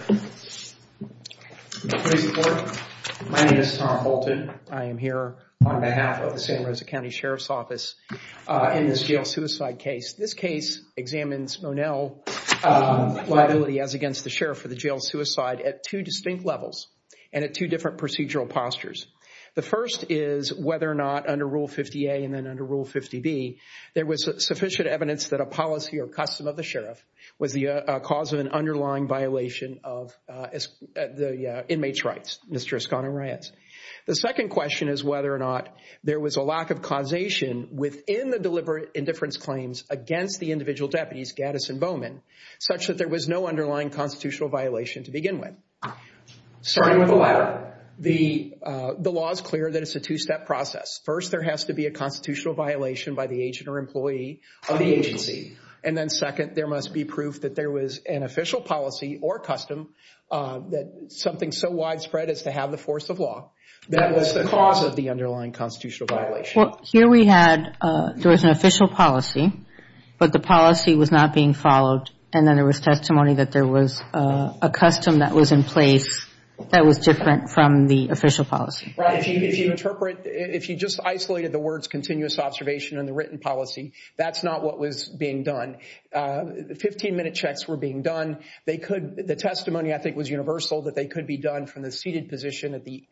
My name is Tom Bolton. I am here on behalf of the Santa Rosa County Sheriff's Office in this jail suicide case. This case examines Monell liability as against the sheriff for the jail suicide at two distinct levels and at two different procedural postures. The first is whether or not under Rule 50A and then under Rule 50B there was sufficient evidence that a policy or custom of the sheriff was the cause of an underlying violation of the inmate's rights. The second question is whether or not there was a lack of causation within the deliberate indifference claims against the individual deputies Gaddis and Bowman such that there was no underlying constitutional violation to begin with. Starting with the letter, the law is clear that it's a two-step process. First, there has to be a constitutional violation by the agent or employee of the agency. And then second, there must be proof that there was an official policy or custom that something so widespread as to have the force of law that was the cause of the underlying constitutional violation. Here we had, there was an official policy, but the policy was not being followed. And then there was testimony that there was a custom that was in place that was different from the official policy. If you interpret, if you just isolated the words continuous observation and the written policy, that's not what was being done. Fifteen-minute checks were being done. They could, the testimony I think was universal that they could be done from the seated position at the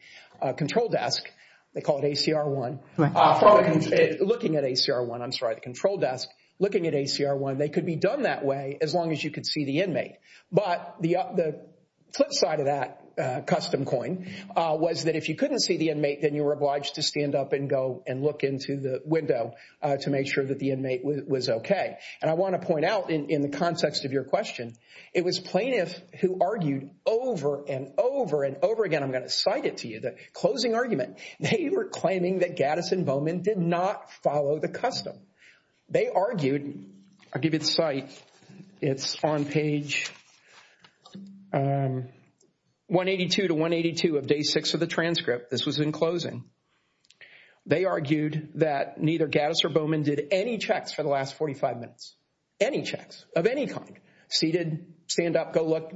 control desk. They call it ACR 1. Looking at ACR 1, I'm sorry, the control desk. Looking at ACR 1, they could be done that way as long as you could see the inmate. But the flip side of that custom coin was that if you couldn't see the inmate, then you were obliged to stand up and go and look into the window to make sure that the inmate was okay. And I want to point out in the context of your question, it was plaintiffs who argued over and over and over again. I'm going to cite it to you, the closing argument. They were claiming that Gaddis and Bowman did not follow the custom. They argued, I'll give you the cite, it's on page 182 to 182 of day six of the transcript. This was in closing. They argued that neither Gaddis or Bowman did any checks for the last 45 minutes. Any checks of any kind. Seated, stand up, go look,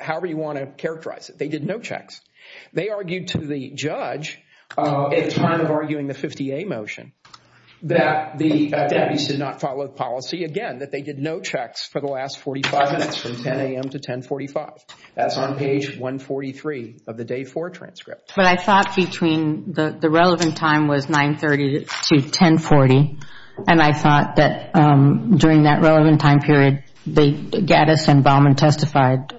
however you want to characterize it. They did no checks. They argued to the judge at the time of arguing the 50A motion that the deputies did not follow the policy again, that they did no checks for the last 45 minutes from 10 a.m. to 1045. That's on page 143 of the day four transcript. But I thought between the relevant time was 930 to 1040, and I thought that during that relevant time period, Gaddis and Bowman testified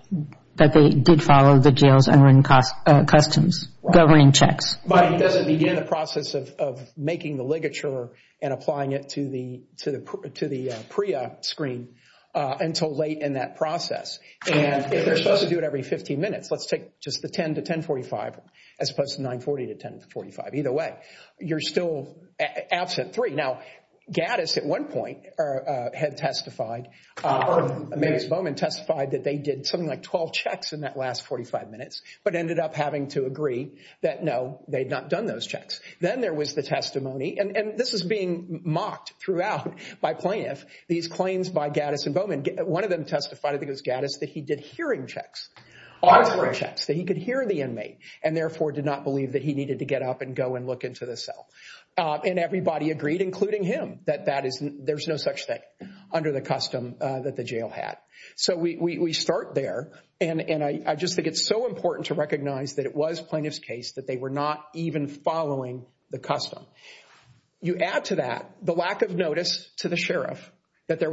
that they did follow the jails and customs governing checks. But it doesn't begin the process of making the ligature and applying it to the PREA screen until late in that process. And they're supposed to do it every 15 minutes. Let's take just the 10 to 1045 as opposed to 940 to 1045. Either way, you're still absent three. Now, Gaddis at one point had testified, and Bowman testified that they did something like 12 checks in that last 45 minutes, but ended up having to agree that, no, they had not done those checks. Then there was the testimony, and this is being mocked throughout by plaintiffs, these claims by Gaddis and Bowman. One of them testified, I think it was Gaddis, that he did hearing checks, auditory checks, that he could hear the inmate and therefore did not believe that he needed to get up and go and look into the cell. And everybody agreed, including him, that there's no such thing under the custom that the jail had. So we start there. And I just think it's so important to recognize that it was plaintiff's case that they were not even following the custom. You add to that the lack of notice to the sheriff that that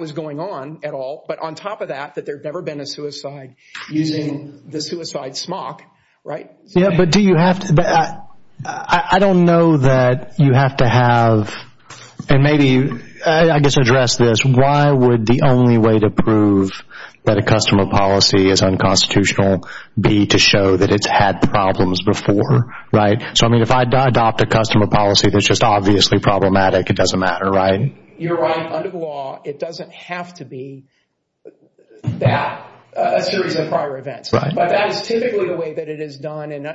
was going on at all, but on top of that, that there had never been a suicide using the suicide smock, right? Yeah, but do you have to – I don't know that you have to have – and maybe, I guess, address this. Why would the only way to prove that a customer policy is unconstitutional be to show that it's had problems before, right? So, I mean, if I adopt a customer policy that's just obviously problematic, it doesn't matter, right? You're right. Under the law, it doesn't have to be that, a series of prior events. But that is typically the way that it is done. And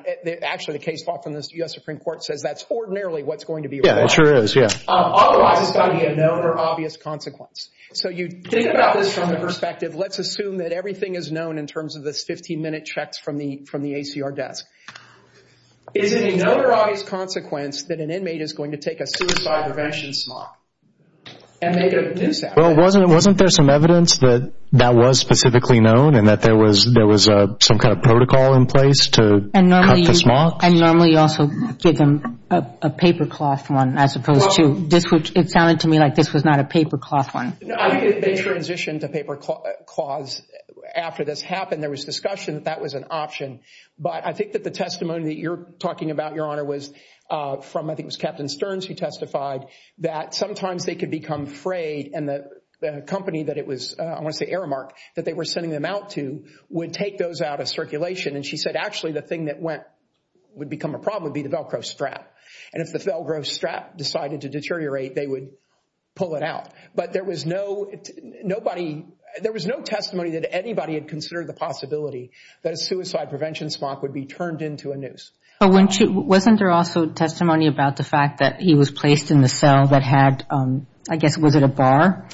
actually, the case file from the U.S. Supreme Court says that's ordinarily what's going to be required. Yeah, it sure is, yeah. Otherwise, it's got to be a known or obvious consequence. So you think about this from the perspective, let's assume that everything is known in terms of this 15-minute checks from the ACR desk. Is it a known or obvious consequence that an inmate is going to take a suicide prevention smock and make it a new statute? Well, wasn't there some evidence that that was specifically known and that there was some kind of protocol in place to cut the smocks? And normally you also give them a papercloth one as opposed to – it sounded to me like this was not a papercloth one. No, I think they transitioned to papercloths after this happened. There was discussion that that was an option. But I think that the testimony that you're talking about, Your Honor, was from I think it was Captain Stearns who testified that sometimes they could become frayed and the company that it was, I want to say Aramark, that they were sending them out to would take those out of circulation. And she said actually the thing that would become a problem would be the Velcro strap. And if the Velcro strap decided to deteriorate, they would pull it out. But there was no testimony that anybody had considered the possibility that a suicide prevention smock would be turned into a noose. Wasn't there also testimony about the fact that he was placed in the cell that had – I guess was it a bar?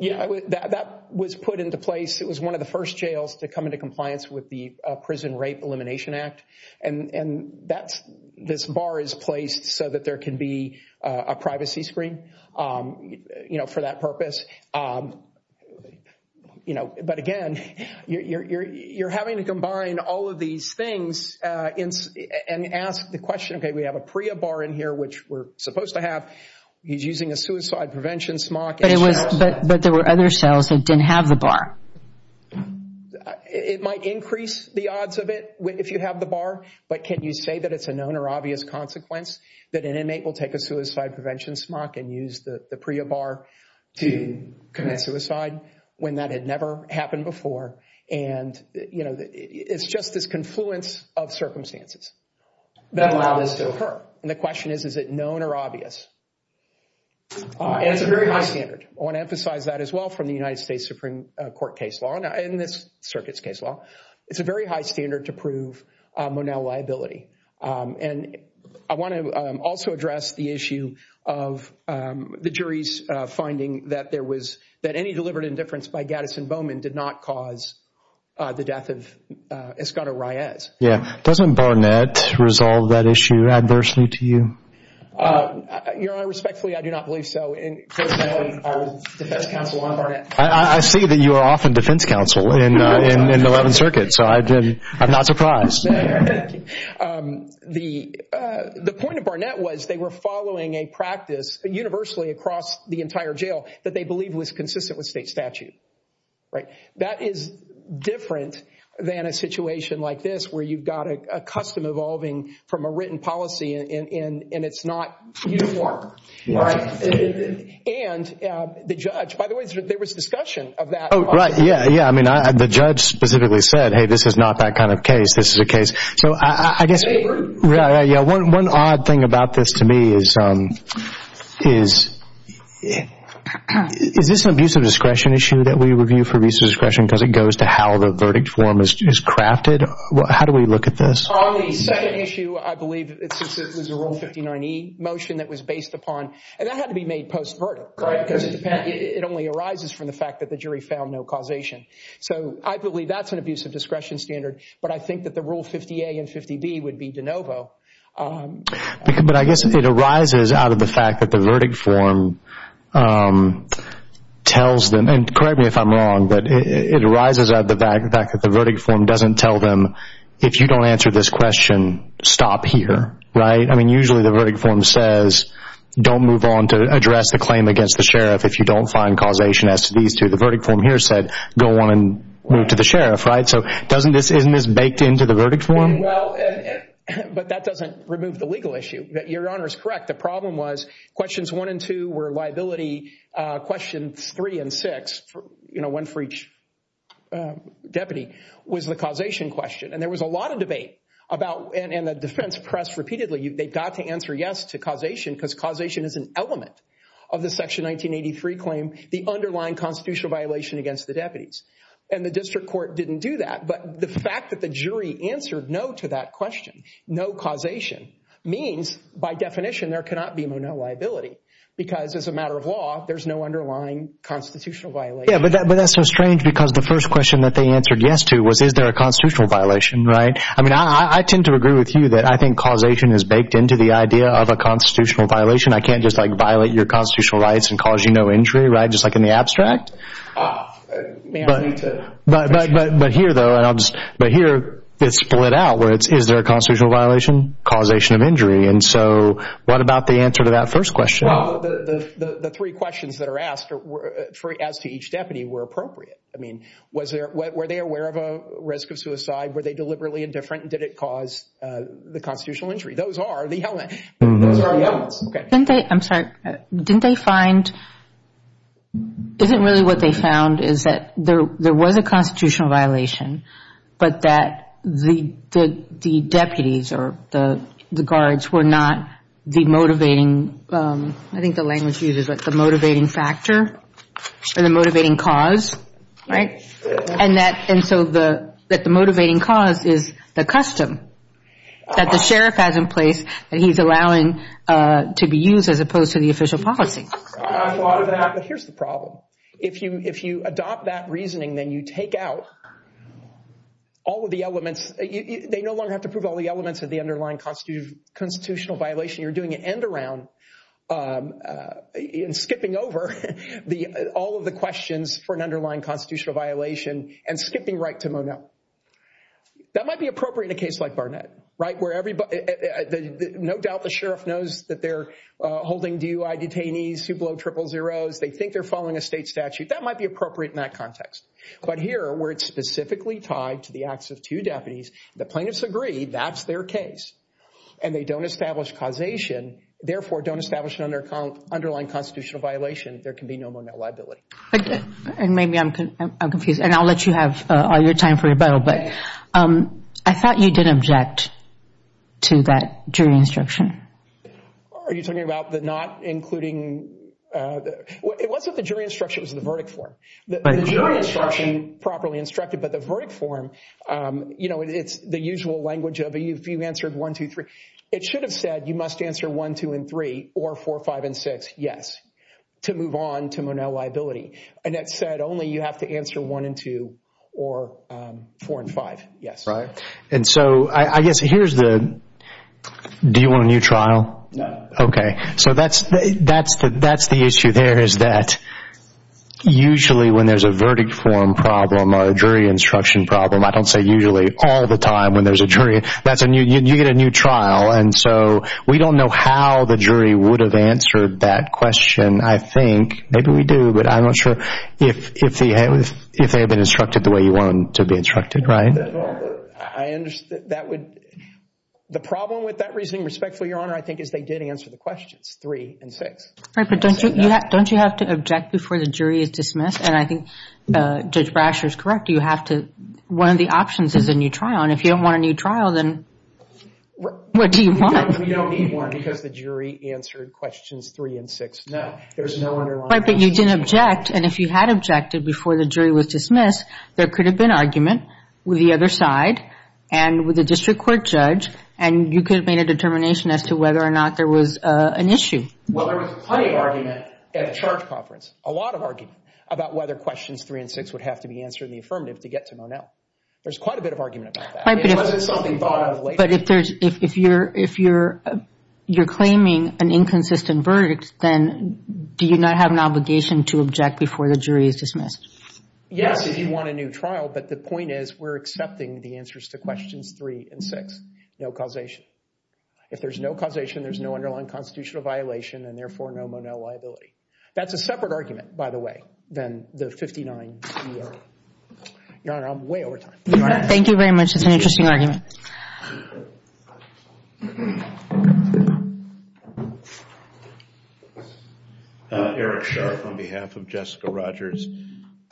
Yeah, that was put into place. It was one of the first jails to come into compliance with the Prison Rape Elimination Act. And this bar is placed so that there can be a privacy screen for that purpose. But again, you're having to combine all of these things and ask the question, okay, we have a PREA bar in here, which we're supposed to have. He's using a suicide prevention smock. But there were other cells that didn't have the bar. It might increase the odds of it if you have the bar. But can you say that it's a known or obvious consequence that an inmate will take a suicide prevention smock and use the PREA bar to commit suicide when that had never happened before? And, you know, it's just this confluence of circumstances that allow this to occur. And the question is, is it known or obvious? And it's a very high standard. I want to emphasize that as well from the United States Supreme Court case law and this circuit's case law. It's a very high standard to prove Monell liability. And I want to also address the issue of the jury's finding that there was, that any deliberate indifference by Gaddis and Bowman did not cause the death of Escada-Reyes. Yeah. Doesn't Barnett resolve that issue adversely to you? Your Honor, respectfully, I do not believe so. And first of all, I was defense counsel on Barnett. I see that you are often defense counsel in the 11th Circuit, so I'm not surprised. The point of Barnett was they were following a practice universally across the entire jail that they believed was consistent with state statute. Right? That is different than a situation like this where you've got a custom evolving from a written policy and it's not uniform. Right? And the judge, by the way, there was discussion of that. Oh, right. Yeah, yeah. I mean, the judge specifically said, hey, this is not that kind of case. This is a case. So I guess one odd thing about this to me is, is this an abuse of discretion issue that we review for abuse of discretion because it goes to how the verdict form is crafted? How do we look at this? On the second issue, I believe it was a Rule 59e motion that was based upon, and that had to be made post-verdict. Right. Because it only arises from the fact that the jury found no causation. So I believe that's an abuse of discretion standard, but I think that the Rule 50a and 50b would be de novo. But I guess it arises out of the fact that the verdict form tells them, and correct me if I'm wrong, but it arises out of the fact that the verdict form doesn't tell them, if you don't answer this question, stop here. Right? I mean, usually the verdict form says don't move on to address the claim against the sheriff if you don't find causation as to these two. The verdict form here said go on and move to the sheriff. Right? So isn't this baked into the verdict form? Well, but that doesn't remove the legal issue. Your Honor is correct. The problem was questions one and two were liability. Questions three and six, one for each deputy, was the causation question. And there was a lot of debate about, and the defense pressed repeatedly, they've got to answer yes to causation because causation is an element of the constitutional violation against the deputies. And the district court didn't do that. But the fact that the jury answered no to that question, no causation, means by definition there cannot be no liability because as a matter of law, there's no underlying constitutional violation. Yeah, but that's so strange because the first question that they answered yes to was is there a constitutional violation. Right? I mean, I tend to agree with you that I think causation is baked into the idea of a constitutional violation. I can't just like violate your constitutional rights and cause you no injury. Right? Just like in the abstract. But here, though, it's split out. Is there a constitutional violation? Causation of injury. And so what about the answer to that first question? Well, the three questions that are asked as to each deputy were appropriate. I mean, were they aware of a risk of suicide? Were they deliberately indifferent? And did it cause the constitutional injury? Those are the elements. I'm sorry. Didn't they find isn't really what they found is that there was a constitutional violation, but that the deputies or the guards were not the motivating, I think the language used is the motivating factor or the motivating cause. Right? And so that the motivating cause is the custom that the sheriff has in place that he's allowing to be used as opposed to the official policy. I thought of that. But here's the problem. If you adopt that reasoning, then you take out all of the elements. They no longer have to prove all the elements of the underlying constitutional violation. You're doing an end around and skipping over all of the questions for an underlying constitutional violation and skipping right to Monette. That might be appropriate in a case like Barnett. No doubt the sheriff knows that they're holding DUI detainees who blow triple zeroes. They think they're following a state statute. That might be appropriate in that context. But here, where it's specifically tied to the acts of two deputies, the plaintiffs agree that's their case, and they don't establish causation, therefore don't establish an underlying constitutional violation, there can be no Monette liability. And maybe I'm confused. And I'll let you have all your time for rebuttal. But I thought you did object to that jury instruction. Are you talking about the not including? It wasn't the jury instruction. It was the verdict form. The jury instruction properly instructed. But the verdict form, you know, it's the usual language of if you answered one, two, three, it should have said you must answer one, two, and three, or four, five, and six, yes, to move on to Monette liability. And it said only you have to answer one and two or four and five, yes. Right. And so I guess here's the do you want a new trial? No. Okay. So that's the issue there is that usually when there's a verdict form problem or a jury instruction problem, I don't say usually, all the time when there's a jury, you get a new trial. And so we don't know how the jury would have answered that question, I think. Maybe we do, but I'm not sure. If they had been instructed the way you want them to be instructed, right? I understand. That would – the problem with that reasoning, respectfully, Your Honor, I think is they did answer the questions, three and six. But don't you have to object before the jury is dismissed? And I think Judge Brasher is correct. You have to – one of the options is a new trial. And if you don't want a new trial, then what do you want? We don't need one because the jury answered questions three and six. No. Right, but you didn't object. And if you had objected before the jury was dismissed, there could have been argument with the other side and with the district court judge, and you could have made a determination as to whether or not there was an issue. Well, there was plenty of argument at the charge conference, a lot of argument, about whether questions three and six would have to be answered in the affirmative to get to Mon-El. There's quite a bit of argument about that. But if there's – if you're claiming an inconsistent verdict, then do you not have an obligation to object before the jury is dismissed? Yes, if you want a new trial, but the point is we're accepting the answers to questions three and six. No causation. If there's no causation, there's no underlying constitutional violation and therefore no Mon-El liability. That's a separate argument, by the way, than the 59 ER. Your Honor, I'm way over time. Thank you very much. It's an interesting argument. Thank you. Eric Sharp on behalf of Jessica Rogers.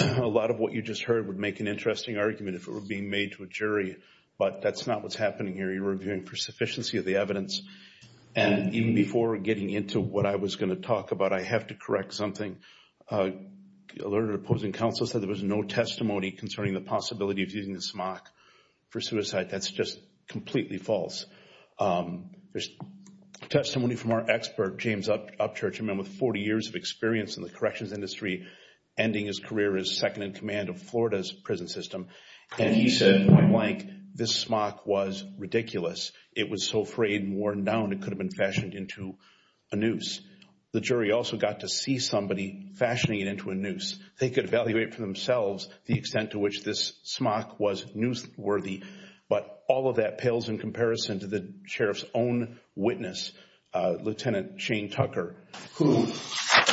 A lot of what you just heard would make an interesting argument if it were being made to a jury, but that's not what's happening here. You're reviewing for sufficiency of the evidence. And even before getting into what I was going to talk about, I have to correct something. The alerted opposing counsel said there was no testimony concerning the possibility of using the smock for suicide. That's just completely false. There's testimony from our expert, James Upchurch, a man with 40 years of experience in the corrections industry, ending his career as second-in-command of Florida's prison system. And he said, point blank, this smock was ridiculous. It was so frayed and worn down it could have been fashioned into a noose. They could evaluate for themselves the extent to which this smock was noose-worthy. But all of that pales in comparison to the sheriff's own witness, Lieutenant Shane Tucker, who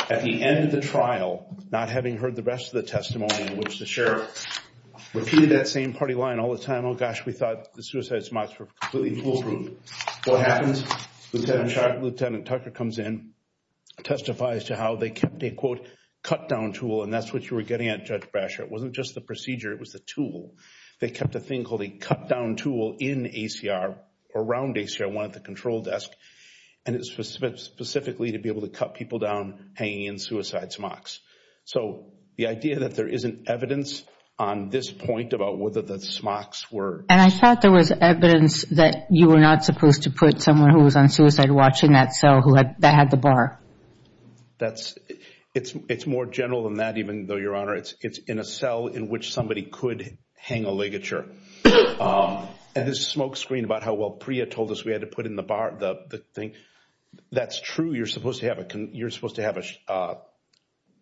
at the end of the trial, not having heard the rest of the testimony, in which the sheriff repeated that same party line all the time, oh, gosh, we thought the suicide smocks were completely foolproof. What happens? Lieutenant Sharp, Lieutenant Tucker comes in, testifies to how they kept a, quote, cut-down tool, and that's what you were getting at, Judge Brasher. It wasn't just the procedure, it was the tool. They kept a thing called a cut-down tool in ACR, around ACR, one at the control desk, and it was specifically to be able to cut people down hanging in suicide smocks. So the idea that there isn't evidence on this point about whether the smocks were... And I thought there was evidence that you were not supposed to put someone who was on suicide watch in that cell that had the bar. It's more general than that, even though, Your Honor, it's in a cell in which somebody could hang a ligature. And the smoke screen about how well Priya told us we had to put in the bar, the thing, that's true. You're supposed to have a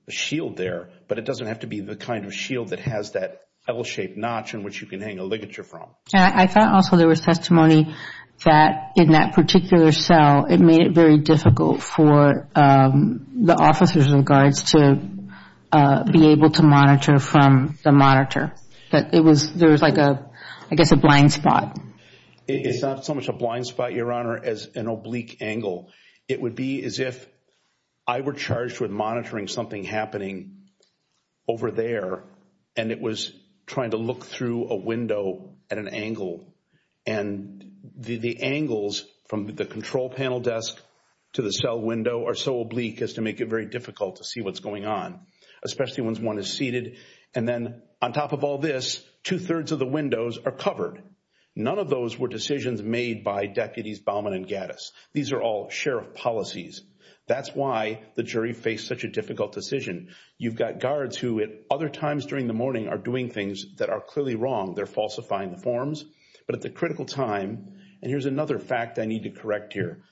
shield there, but it doesn't have to be the kind of shield that has that L-shaped notch in which you can hang a ligature from. I thought also there was testimony that in that particular cell, it made it very difficult for the officers and guards to be able to monitor from the monitor. There was, I guess, a blind spot. It's not so much a blind spot, Your Honor, as an oblique angle. It would be as if I were charged with monitoring something happening over there, and it was trying to look through a window at an angle. And the angles from the control panel desk to the cell window are so oblique as to make it very difficult to see what's going on, especially once one is seated. And then on top of all this, two-thirds of the windows are covered. None of those were decisions made by deputies Baumann and Gaddis. These are all sheriff policies. That's why the jury faced such a difficult decision. You've got guards who at other times during the morning are doing things that are clearly wrong. They're falsifying the forms. But at the critical time, and here's another fact I need to correct here,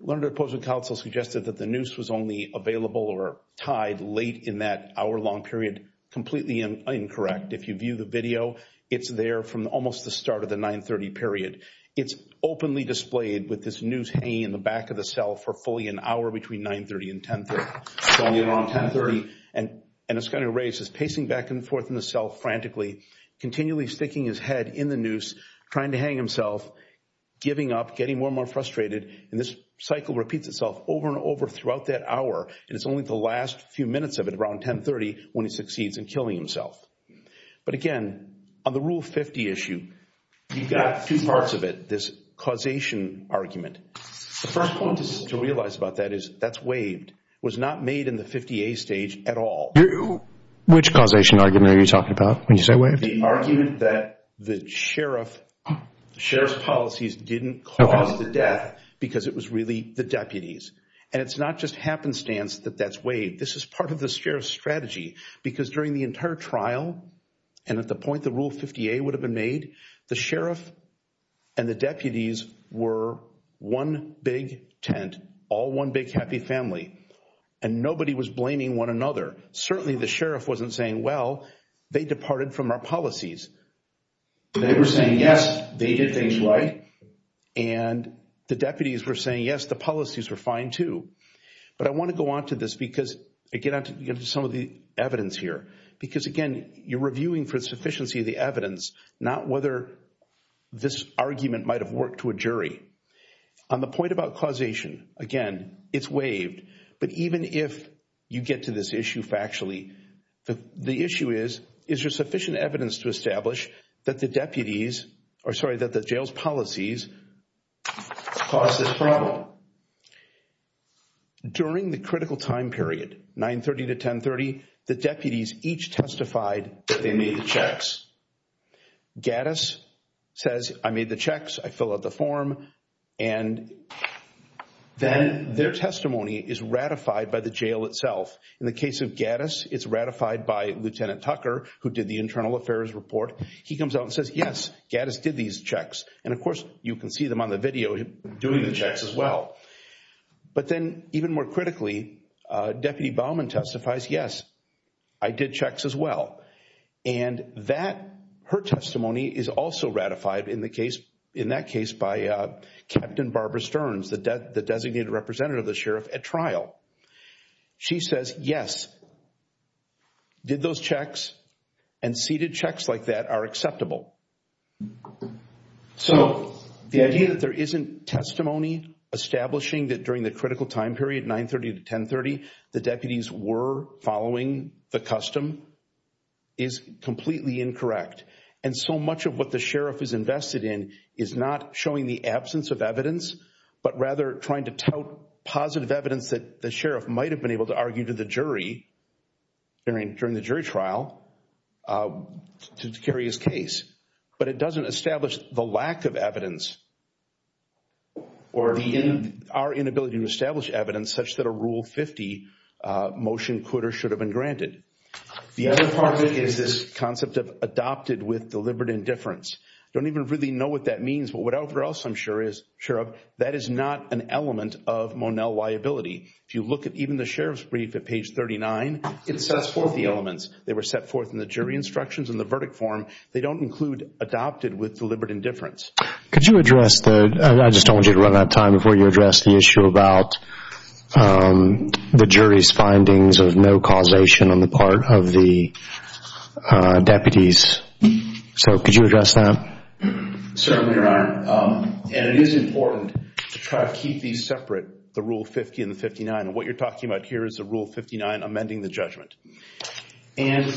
Learned Opposing Counsel suggested that the noose was only available or tied late in that hour-long period. Completely incorrect. If you view the video, it's there from almost the start of the 9-30 period. It's openly displayed with this noose hanging in the back of the cell for fully an hour between 9-30 and 10-30. And it's going to erase. It's pacing back and forth in the cell frantically, continually sticking his head in the noose, trying to hang himself, giving up, getting more and more frustrated. And this cycle repeats itself over and over throughout that hour, and it's only the last few minutes of it around 10-30 when he succeeds in killing himself. But again, on the Rule 50 issue, you've got two parts of it, this causation argument. The first point to realize about that is that's waived. It was not made in the 50A stage at all. Which causation argument are you talking about when you say waived? The argument that the sheriff's policies didn't cause the death because it was really the deputies. And it's not just happenstance that that's waived. This is part of the sheriff's strategy because during the entire trial and at the point the Rule 50A would have been made, the sheriff and the deputies were one big tent, all one big happy family. And nobody was blaming one another. Certainly the sheriff wasn't saying, well, they departed from our policies. They were saying, yes, they did things right. And the deputies were saying, yes, the policies were fine too. But I want to go on to this because I get into some of the evidence here. Because, again, you're reviewing for sufficiency of the evidence, not whether this argument might have worked to a jury. On the point about causation, again, it's waived. But even if you get to this issue factually, the issue is, is there sufficient evidence to establish that the deputies or, sorry, that the jail's policies caused this problem? Now, during the critical time period, 930 to 1030, the deputies each testified that they made the checks. Gaddis says, I made the checks. I fill out the form. And then their testimony is ratified by the jail itself. In the case of Gaddis, it's ratified by Lieutenant Tucker, who did the internal affairs report. He comes out and says, yes, Gaddis did these checks. And, of course, you can see them on the video doing the checks as well. But then, even more critically, Deputy Baumann testifies, yes, I did checks as well. And that, her testimony, is also ratified in that case by Captain Barbara Stearns, the designated representative of the sheriff at trial. She says, yes, did those checks. And seated checks like that are acceptable. So, the idea that there isn't testimony establishing that during the critical time period, 930 to 1030, the deputies were following the custom is completely incorrect. And so much of what the sheriff is invested in is not showing the absence of evidence, but rather trying to tout positive evidence that the sheriff might have been able to argue to the jury during the jury trial to carry his case. But it doesn't establish the lack of evidence or our inability to establish evidence such that a Rule 50 motion could or should have been granted. The other part of it is this concept of adopted with deliberate indifference. I don't even really know what that means. But whatever else I'm sure of, that is not an element of Monell liability. If you look at even the sheriff's brief at page 39, it sets forth the elements. They were set forth in the jury instructions and the verdict form. They don't include adopted with deliberate indifference. Could you address the – I just don't want you to run out of time before you address the issue about the jury's findings of no causation on the part of the deputies. So could you address that? Certainly, Your Honor. And it is important to try to keep these separate, the Rule 50 and the 59. And what you're talking about here is the Rule 59 amending the judgment. And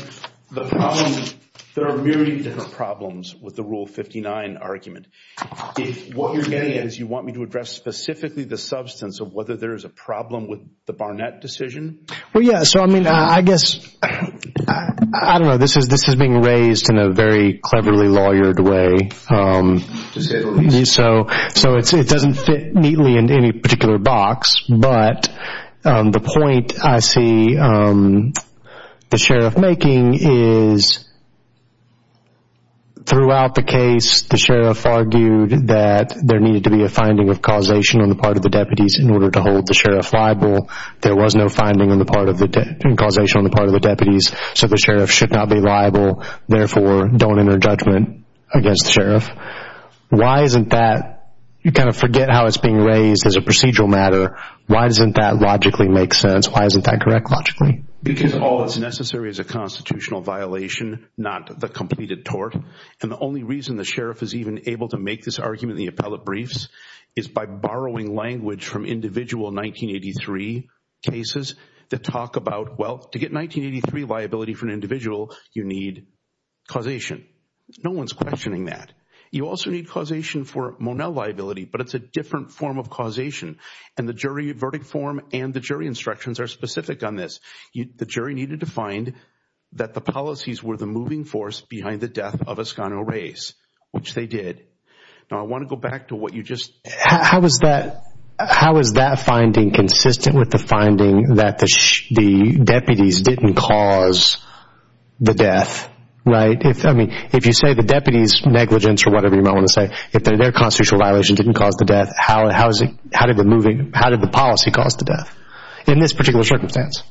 the problem – there are a myriad of different problems with the Rule 59 argument. If what you're getting at is you want me to address specifically the substance of whether there is a problem with the Barnett decision. Well, yeah. So, I mean, I guess – I don't know. This is being raised in a very cleverly lawyered way. So it doesn't fit neatly into any particular box. But the point I see the sheriff making is throughout the case, the sheriff argued that there needed to be a finding of causation on the part of the deputies in order to hold the sheriff liable. There was no finding on the part of the – causation on the part of the deputies. So the sheriff should not be liable. Therefore, don't enter judgment against the sheriff. Why isn't that – you kind of forget how it's being raised as a procedural matter. Why doesn't that logically make sense? Why isn't that correct logically? Because all that's necessary is a constitutional violation, not the completed tort. And the only reason the sheriff is even able to make this argument in the appellate briefs is by borrowing language from individual 1983 cases that talk about, well, to get 1983 liability for an individual, you need causation. No one's questioning that. You also need causation for Monell liability, but it's a different form of causation. And the jury verdict form and the jury instructions are specific on this. The jury needed to find that the policies were the moving force behind the death of Escano Reyes, which they did. Now, I want to go back to what you just – How is that – how is that finding consistent with the finding that the deputies didn't cause the death, right? I mean, if you say the deputies' negligence or whatever you might want to say, if their constitutional violation didn't cause the death, how is it – how did the moving – how did the policy cause the death in this particular circumstance?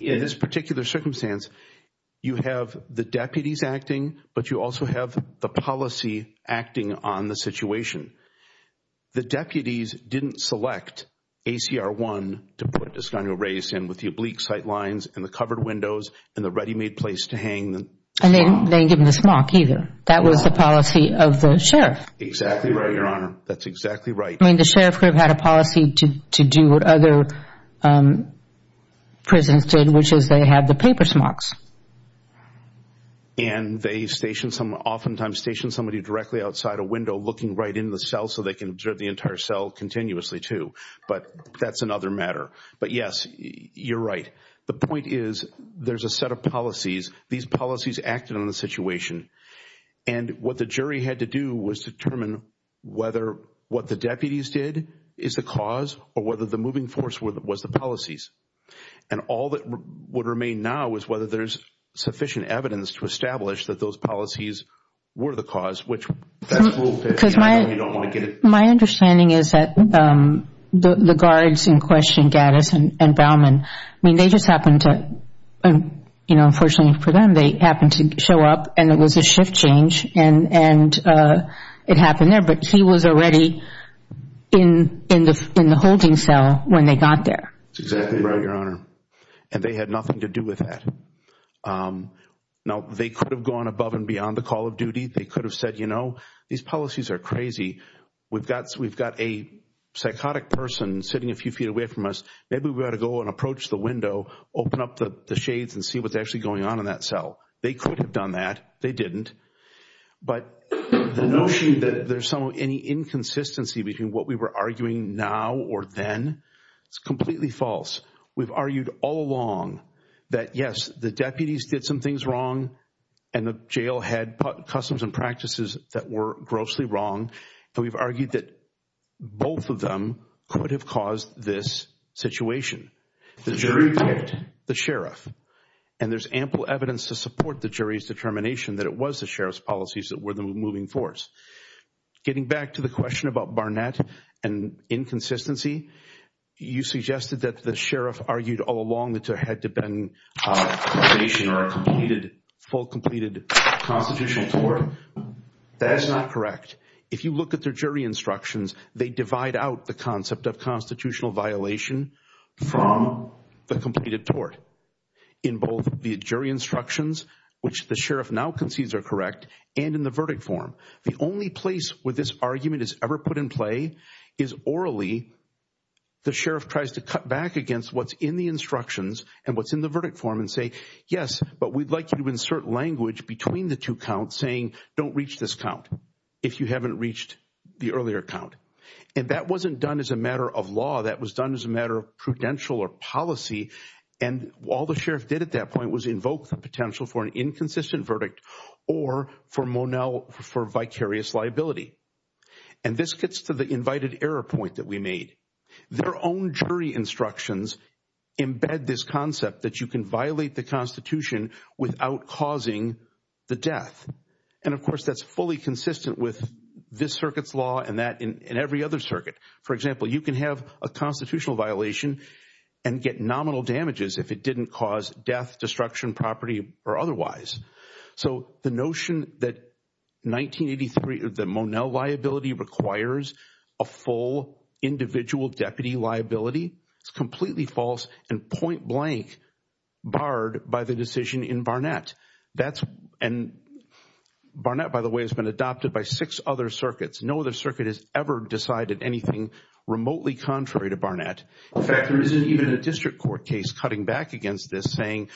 In this particular circumstance, you have the deputies acting, but you also have the policy acting on the situation. The deputies didn't select ACR 1 to put Escano Reyes in with the oblique sight lines and the covered windows and the ready-made place to hang the smock. And they didn't give him the smock either. That was the policy of the sheriff. Exactly right, Your Honor. That's exactly right. I mean, the sheriff could have had a policy to do what other prisons did, which is they have the paper smocks. And they stationed some – oftentimes stationed somebody directly outside a window looking right in the cell so they can observe the entire cell continuously too. But that's another matter. But, yes, you're right. The point is there's a set of policies. These policies acted on the situation. And what the jury had to do was determine whether what the deputies did is the cause or whether the moving force was the policies. And all that would remain now is whether there's sufficient evidence to establish that those policies were the cause, which that's a little bit – Because my understanding is that the guards in question, Gaddis and Bauman, I mean, they just happened to – There was a shift change and it happened there. But he was already in the holding cell when they got there. That's exactly right, Your Honor. And they had nothing to do with that. Now, they could have gone above and beyond the call of duty. They could have said, you know, these policies are crazy. We've got a psychotic person sitting a few feet away from us. Maybe we ought to go and approach the window, open up the shades and see what's actually going on in that cell. They could have done that. They didn't. But the notion that there's any inconsistency between what we were arguing now or then, it's completely false. We've argued all along that, yes, the deputies did some things wrong and the jail had customs and practices that were grossly wrong. And we've argued that both of them could have caused this situation. The jury did. The sheriff. And there's ample evidence to support the jury's determination that it was the sheriff's policies that were the moving force. Getting back to the question about Barnett and inconsistency, you suggested that the sheriff argued all along that there had to have been probation or a full, completed constitutional tort. That is not correct. If you look at their jury instructions, they divide out the concept of constitutional violation from the completed tort. In both the jury instructions, which the sheriff now concedes are correct, and in the verdict form. The only place where this argument is ever put in play is orally. The sheriff tries to cut back against what's in the instructions and what's in the verdict form and say, yes, but we'd like you to insert language between the two counts saying, don't reach this count. If you haven't reached the earlier count. And that wasn't done as a matter of law. That was done as a matter of prudential or policy. And all the sheriff did at that point was invoke the potential for an inconsistent verdict or for Monell for vicarious liability. And this gets to the invited error point that we made. Their own jury instructions embed this concept that you can violate the Constitution without causing the death. And, of course, that's fully consistent with this circuit's law and that in every other circuit. For example, you can have a constitutional violation and get nominal damages if it didn't cause death, destruction, property or otherwise. So the notion that 1983 of the Monell liability requires a full individual deputy liability is completely false and point blank barred by the decision in Barnett. That's and Barnett, by the way, has been adopted by six other circuits. No other circuit has ever decided anything remotely contrary to Barnett. In fact, there isn't even a district court case cutting back against this saying,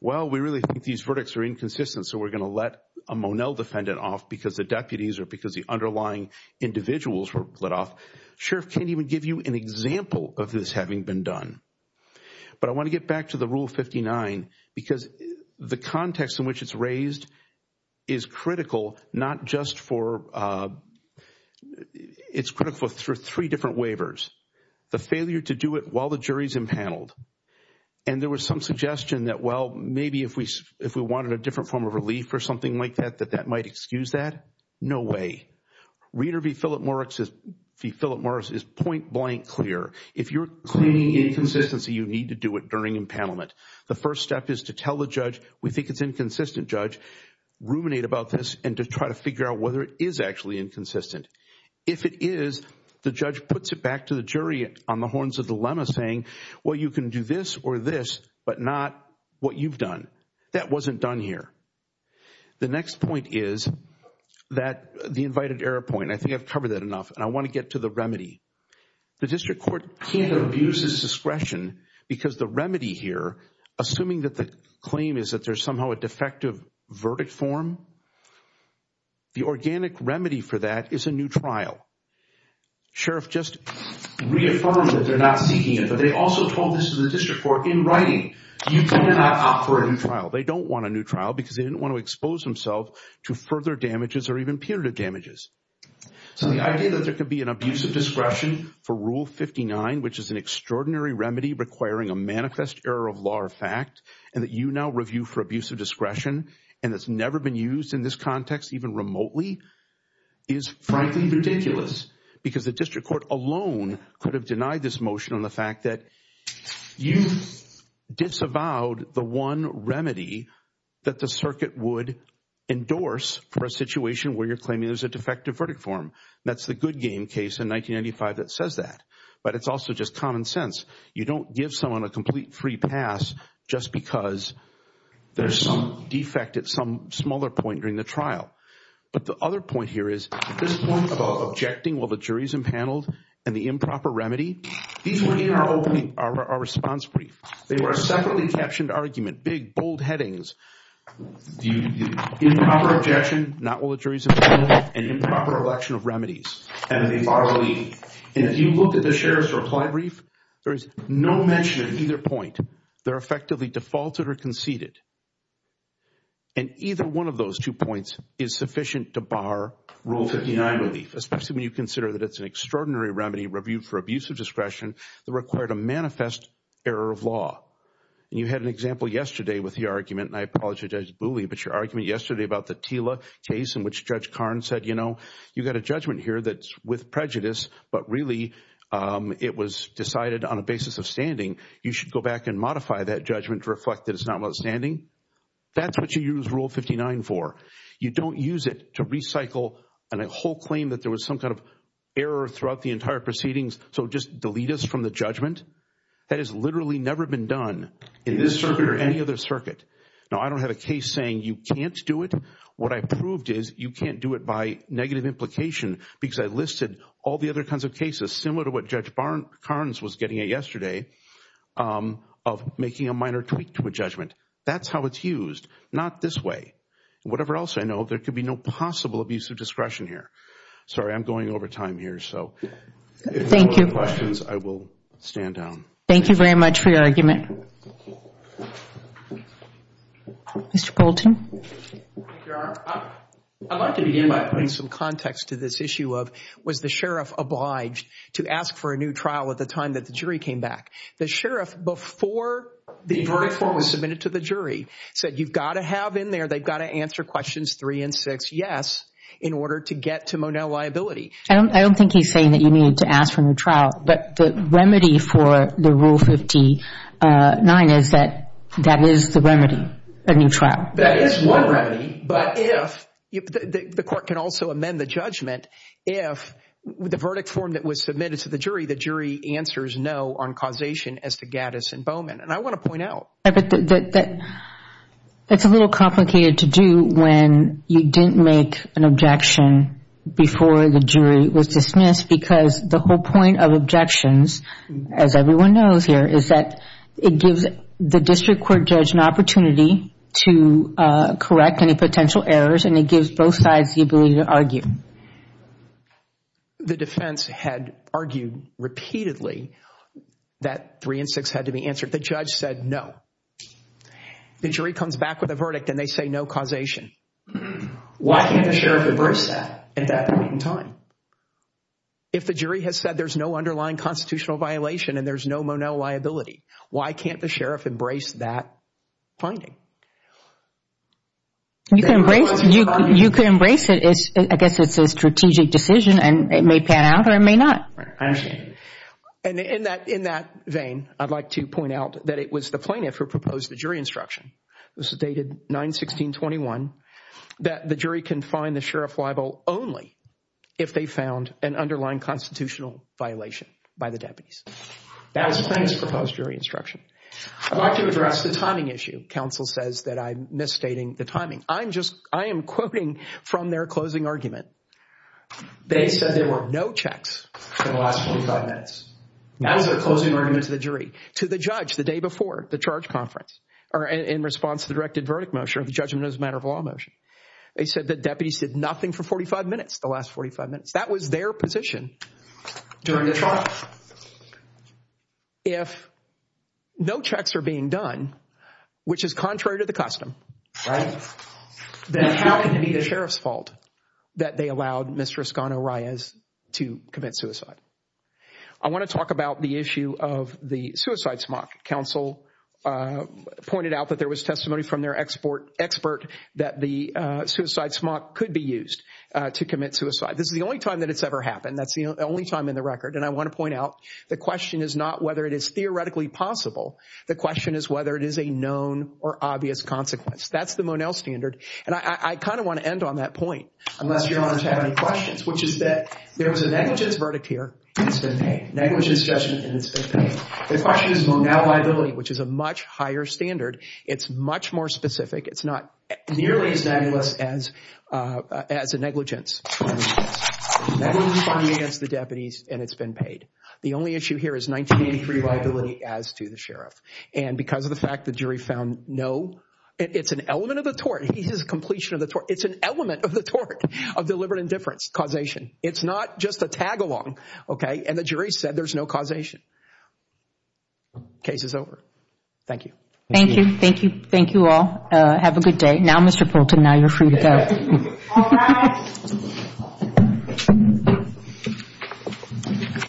well, we really think these verdicts are inconsistent. So we're going to let a Monell defendant off because the deputies or because the underlying individuals were let off. Sheriff can't even give you an example of this having been done. But I want to get back to the Rule 59 because the context in which it's raised is critical not just for, it's critical for three different waivers. The failure to do it while the jury's impaneled. And there was some suggestion that, well, maybe if we wanted a different form of relief or something like that, that that might excuse that. No way. Reader v. Philip Morris is point blank clear. If you're claiming inconsistency, you need to do it during impanelment. The first step is to tell the judge we think it's inconsistent. Judge ruminate about this and to try to figure out whether it is actually inconsistent. If it is, the judge puts it back to the jury on the horns of dilemma saying, well, you can do this or this, but not what you've done. That wasn't done here. The next point is that the invited error point. I think I've covered that enough. And I want to get to the remedy. The district court can't abuse its discretion because the remedy here, assuming that the claim is that there's somehow a defective verdict form, the organic remedy for that is a new trial. Sheriff just reaffirmed that they're not seeking it, but they also told this to the district court in writing. You cannot opt for a new trial. They don't want a new trial because they didn't want to expose themselves to further damages or even punitive damages. So the idea that there could be an abuse of discretion for Rule 59, which is an extraordinary remedy requiring a manifest error of law or fact, and that you now review for abuse of discretion and it's never been used in this context even remotely, is frankly ridiculous because the district court alone could have denied this motion on the fact that you disavowed the one remedy that the circuit would endorse for a situation where you're claiming there's a defective verdict form. That's the good game case in 1995 that says that. But it's also just common sense. You don't give someone a complete free pass just because there's some defect at some smaller point during the trial. But the other point here is this point about objecting while the jury's impaneled and the improper remedy, these were in our response brief. They were a separately captioned argument, big, bold headings, improper objection, not while the jury's impaneled, and improper election of remedies, and they bar relief. And if you look at the sheriff's reply brief, there is no mention of either point. They're effectively defaulted or conceded. And either one of those two points is sufficient to bar Rule 59 relief, especially when you consider that it's an extraordinary remedy reviewed for abuse of discretion that required a manifest error of law. And you had an example yesterday with the argument, and I apologize, Judge Booley, but your argument yesterday about the Tila case in which Judge Karn said, you know, you've got a judgment here that's with prejudice, but really it was decided on a basis of standing. You should go back and modify that judgment to reflect that it's not outstanding. That's what you use Rule 59 for. You don't use it to recycle a whole claim that there was some kind of error throughout the entire proceedings, so just delete us from the judgment. That has literally never been done in this circuit or any other circuit. Now, I don't have a case saying you can't do it. What I proved is you can't do it by negative implication because I listed all the other kinds of cases, similar to what Judge Karns was getting at yesterday, of making a minor tweak to a judgment. That's how it's used, not this way. Whatever else I know, there could be no possible abuse of discretion here. Sorry, I'm going over time here, so if there are no other questions, I will stand down. Thank you very much for your argument. Mr. Colton. Your Honor, I'd like to begin by putting some context to this issue of, was the sheriff obliged to ask for a new trial at the time that the jury came back? The sheriff, before the jury form was submitted to the jury, said you've got to have in there, they've got to answer questions three and six yes in order to get to Monell liability. I don't think he's saying that you need to ask for a new trial, but the remedy for the Rule 59 is that that is the remedy, a new trial. That is one remedy, but if the court can also amend the judgment, if the verdict form that was submitted to the jury, the jury answers no on causation as to Gaddis and Bowman, and I want to point out. It's a little complicated to do when you didn't make an objection before the jury was dismissed because the whole point of objections, as everyone knows here, is that it gives the district court judge an opportunity to correct any potential errors, and it gives both sides the ability to argue. The defense had argued repeatedly that three and six had to be answered. The judge said no. The jury comes back with a verdict, and they say no causation. Why can't the sheriff embrace that at that point in time? If the jury has said there's no underlying constitutional violation and there's no Monell liability, why can't the sheriff embrace that finding? You can embrace it. I guess it's a strategic decision, and it may pan out or it may not. I understand. In that vein, I'd like to point out that it was the plaintiff who proposed the jury instruction. This is dated 9-16-21, that the jury can find the sheriff liable only if they found an underlying constitutional violation by the deputies. That was the plaintiff's proposed jury instruction. I'd like to address the timing issue. Counsel says that I'm misstating the timing. I am quoting from their closing argument. They said there were no checks for the last 45 minutes. That was their closing argument to the jury, to the judge the day before the charge conference, or in response to the directed verdict motion or the judgment as a matter of law motion. They said the deputies did nothing for 45 minutes, the last 45 minutes. That was their position during the trial. If no checks are being done, which is contrary to the custom, then how can it be the sheriff's fault that they allowed Mr. Escanor-Reyes to commit suicide? I want to talk about the issue of the suicide smock. Counsel pointed out that there was testimony from their expert that the suicide smock could be used to commit suicide. This is the only time that it's ever happened. That's the only time in the record. I want to point out the question is not whether it is theoretically possible. The question is whether it is a known or obvious consequence. That's the Monell standard. I kind of want to end on that point, unless your honors have any questions, which is that there was a negligence verdict here, and it's been paid. Negligence judgment, and it's been paid. The question is Monell liability, which is a much higher standard. It's much more specific. It's not nearly as negligent as the deputies, and it's been paid. The only issue here is 1983 liability as to the sheriff, and because of the fact the jury found no. It's an element of the tort. It's a completion of the tort. It's an element of the tort of deliberate indifference causation. It's not just a tag along, okay, and the jury said there's no causation. Case is over. Thank you. Thank you. Thank you. Thank you all. Have a good day. Now, Mr. Poulton, now you're free to go. All rise. Thank you.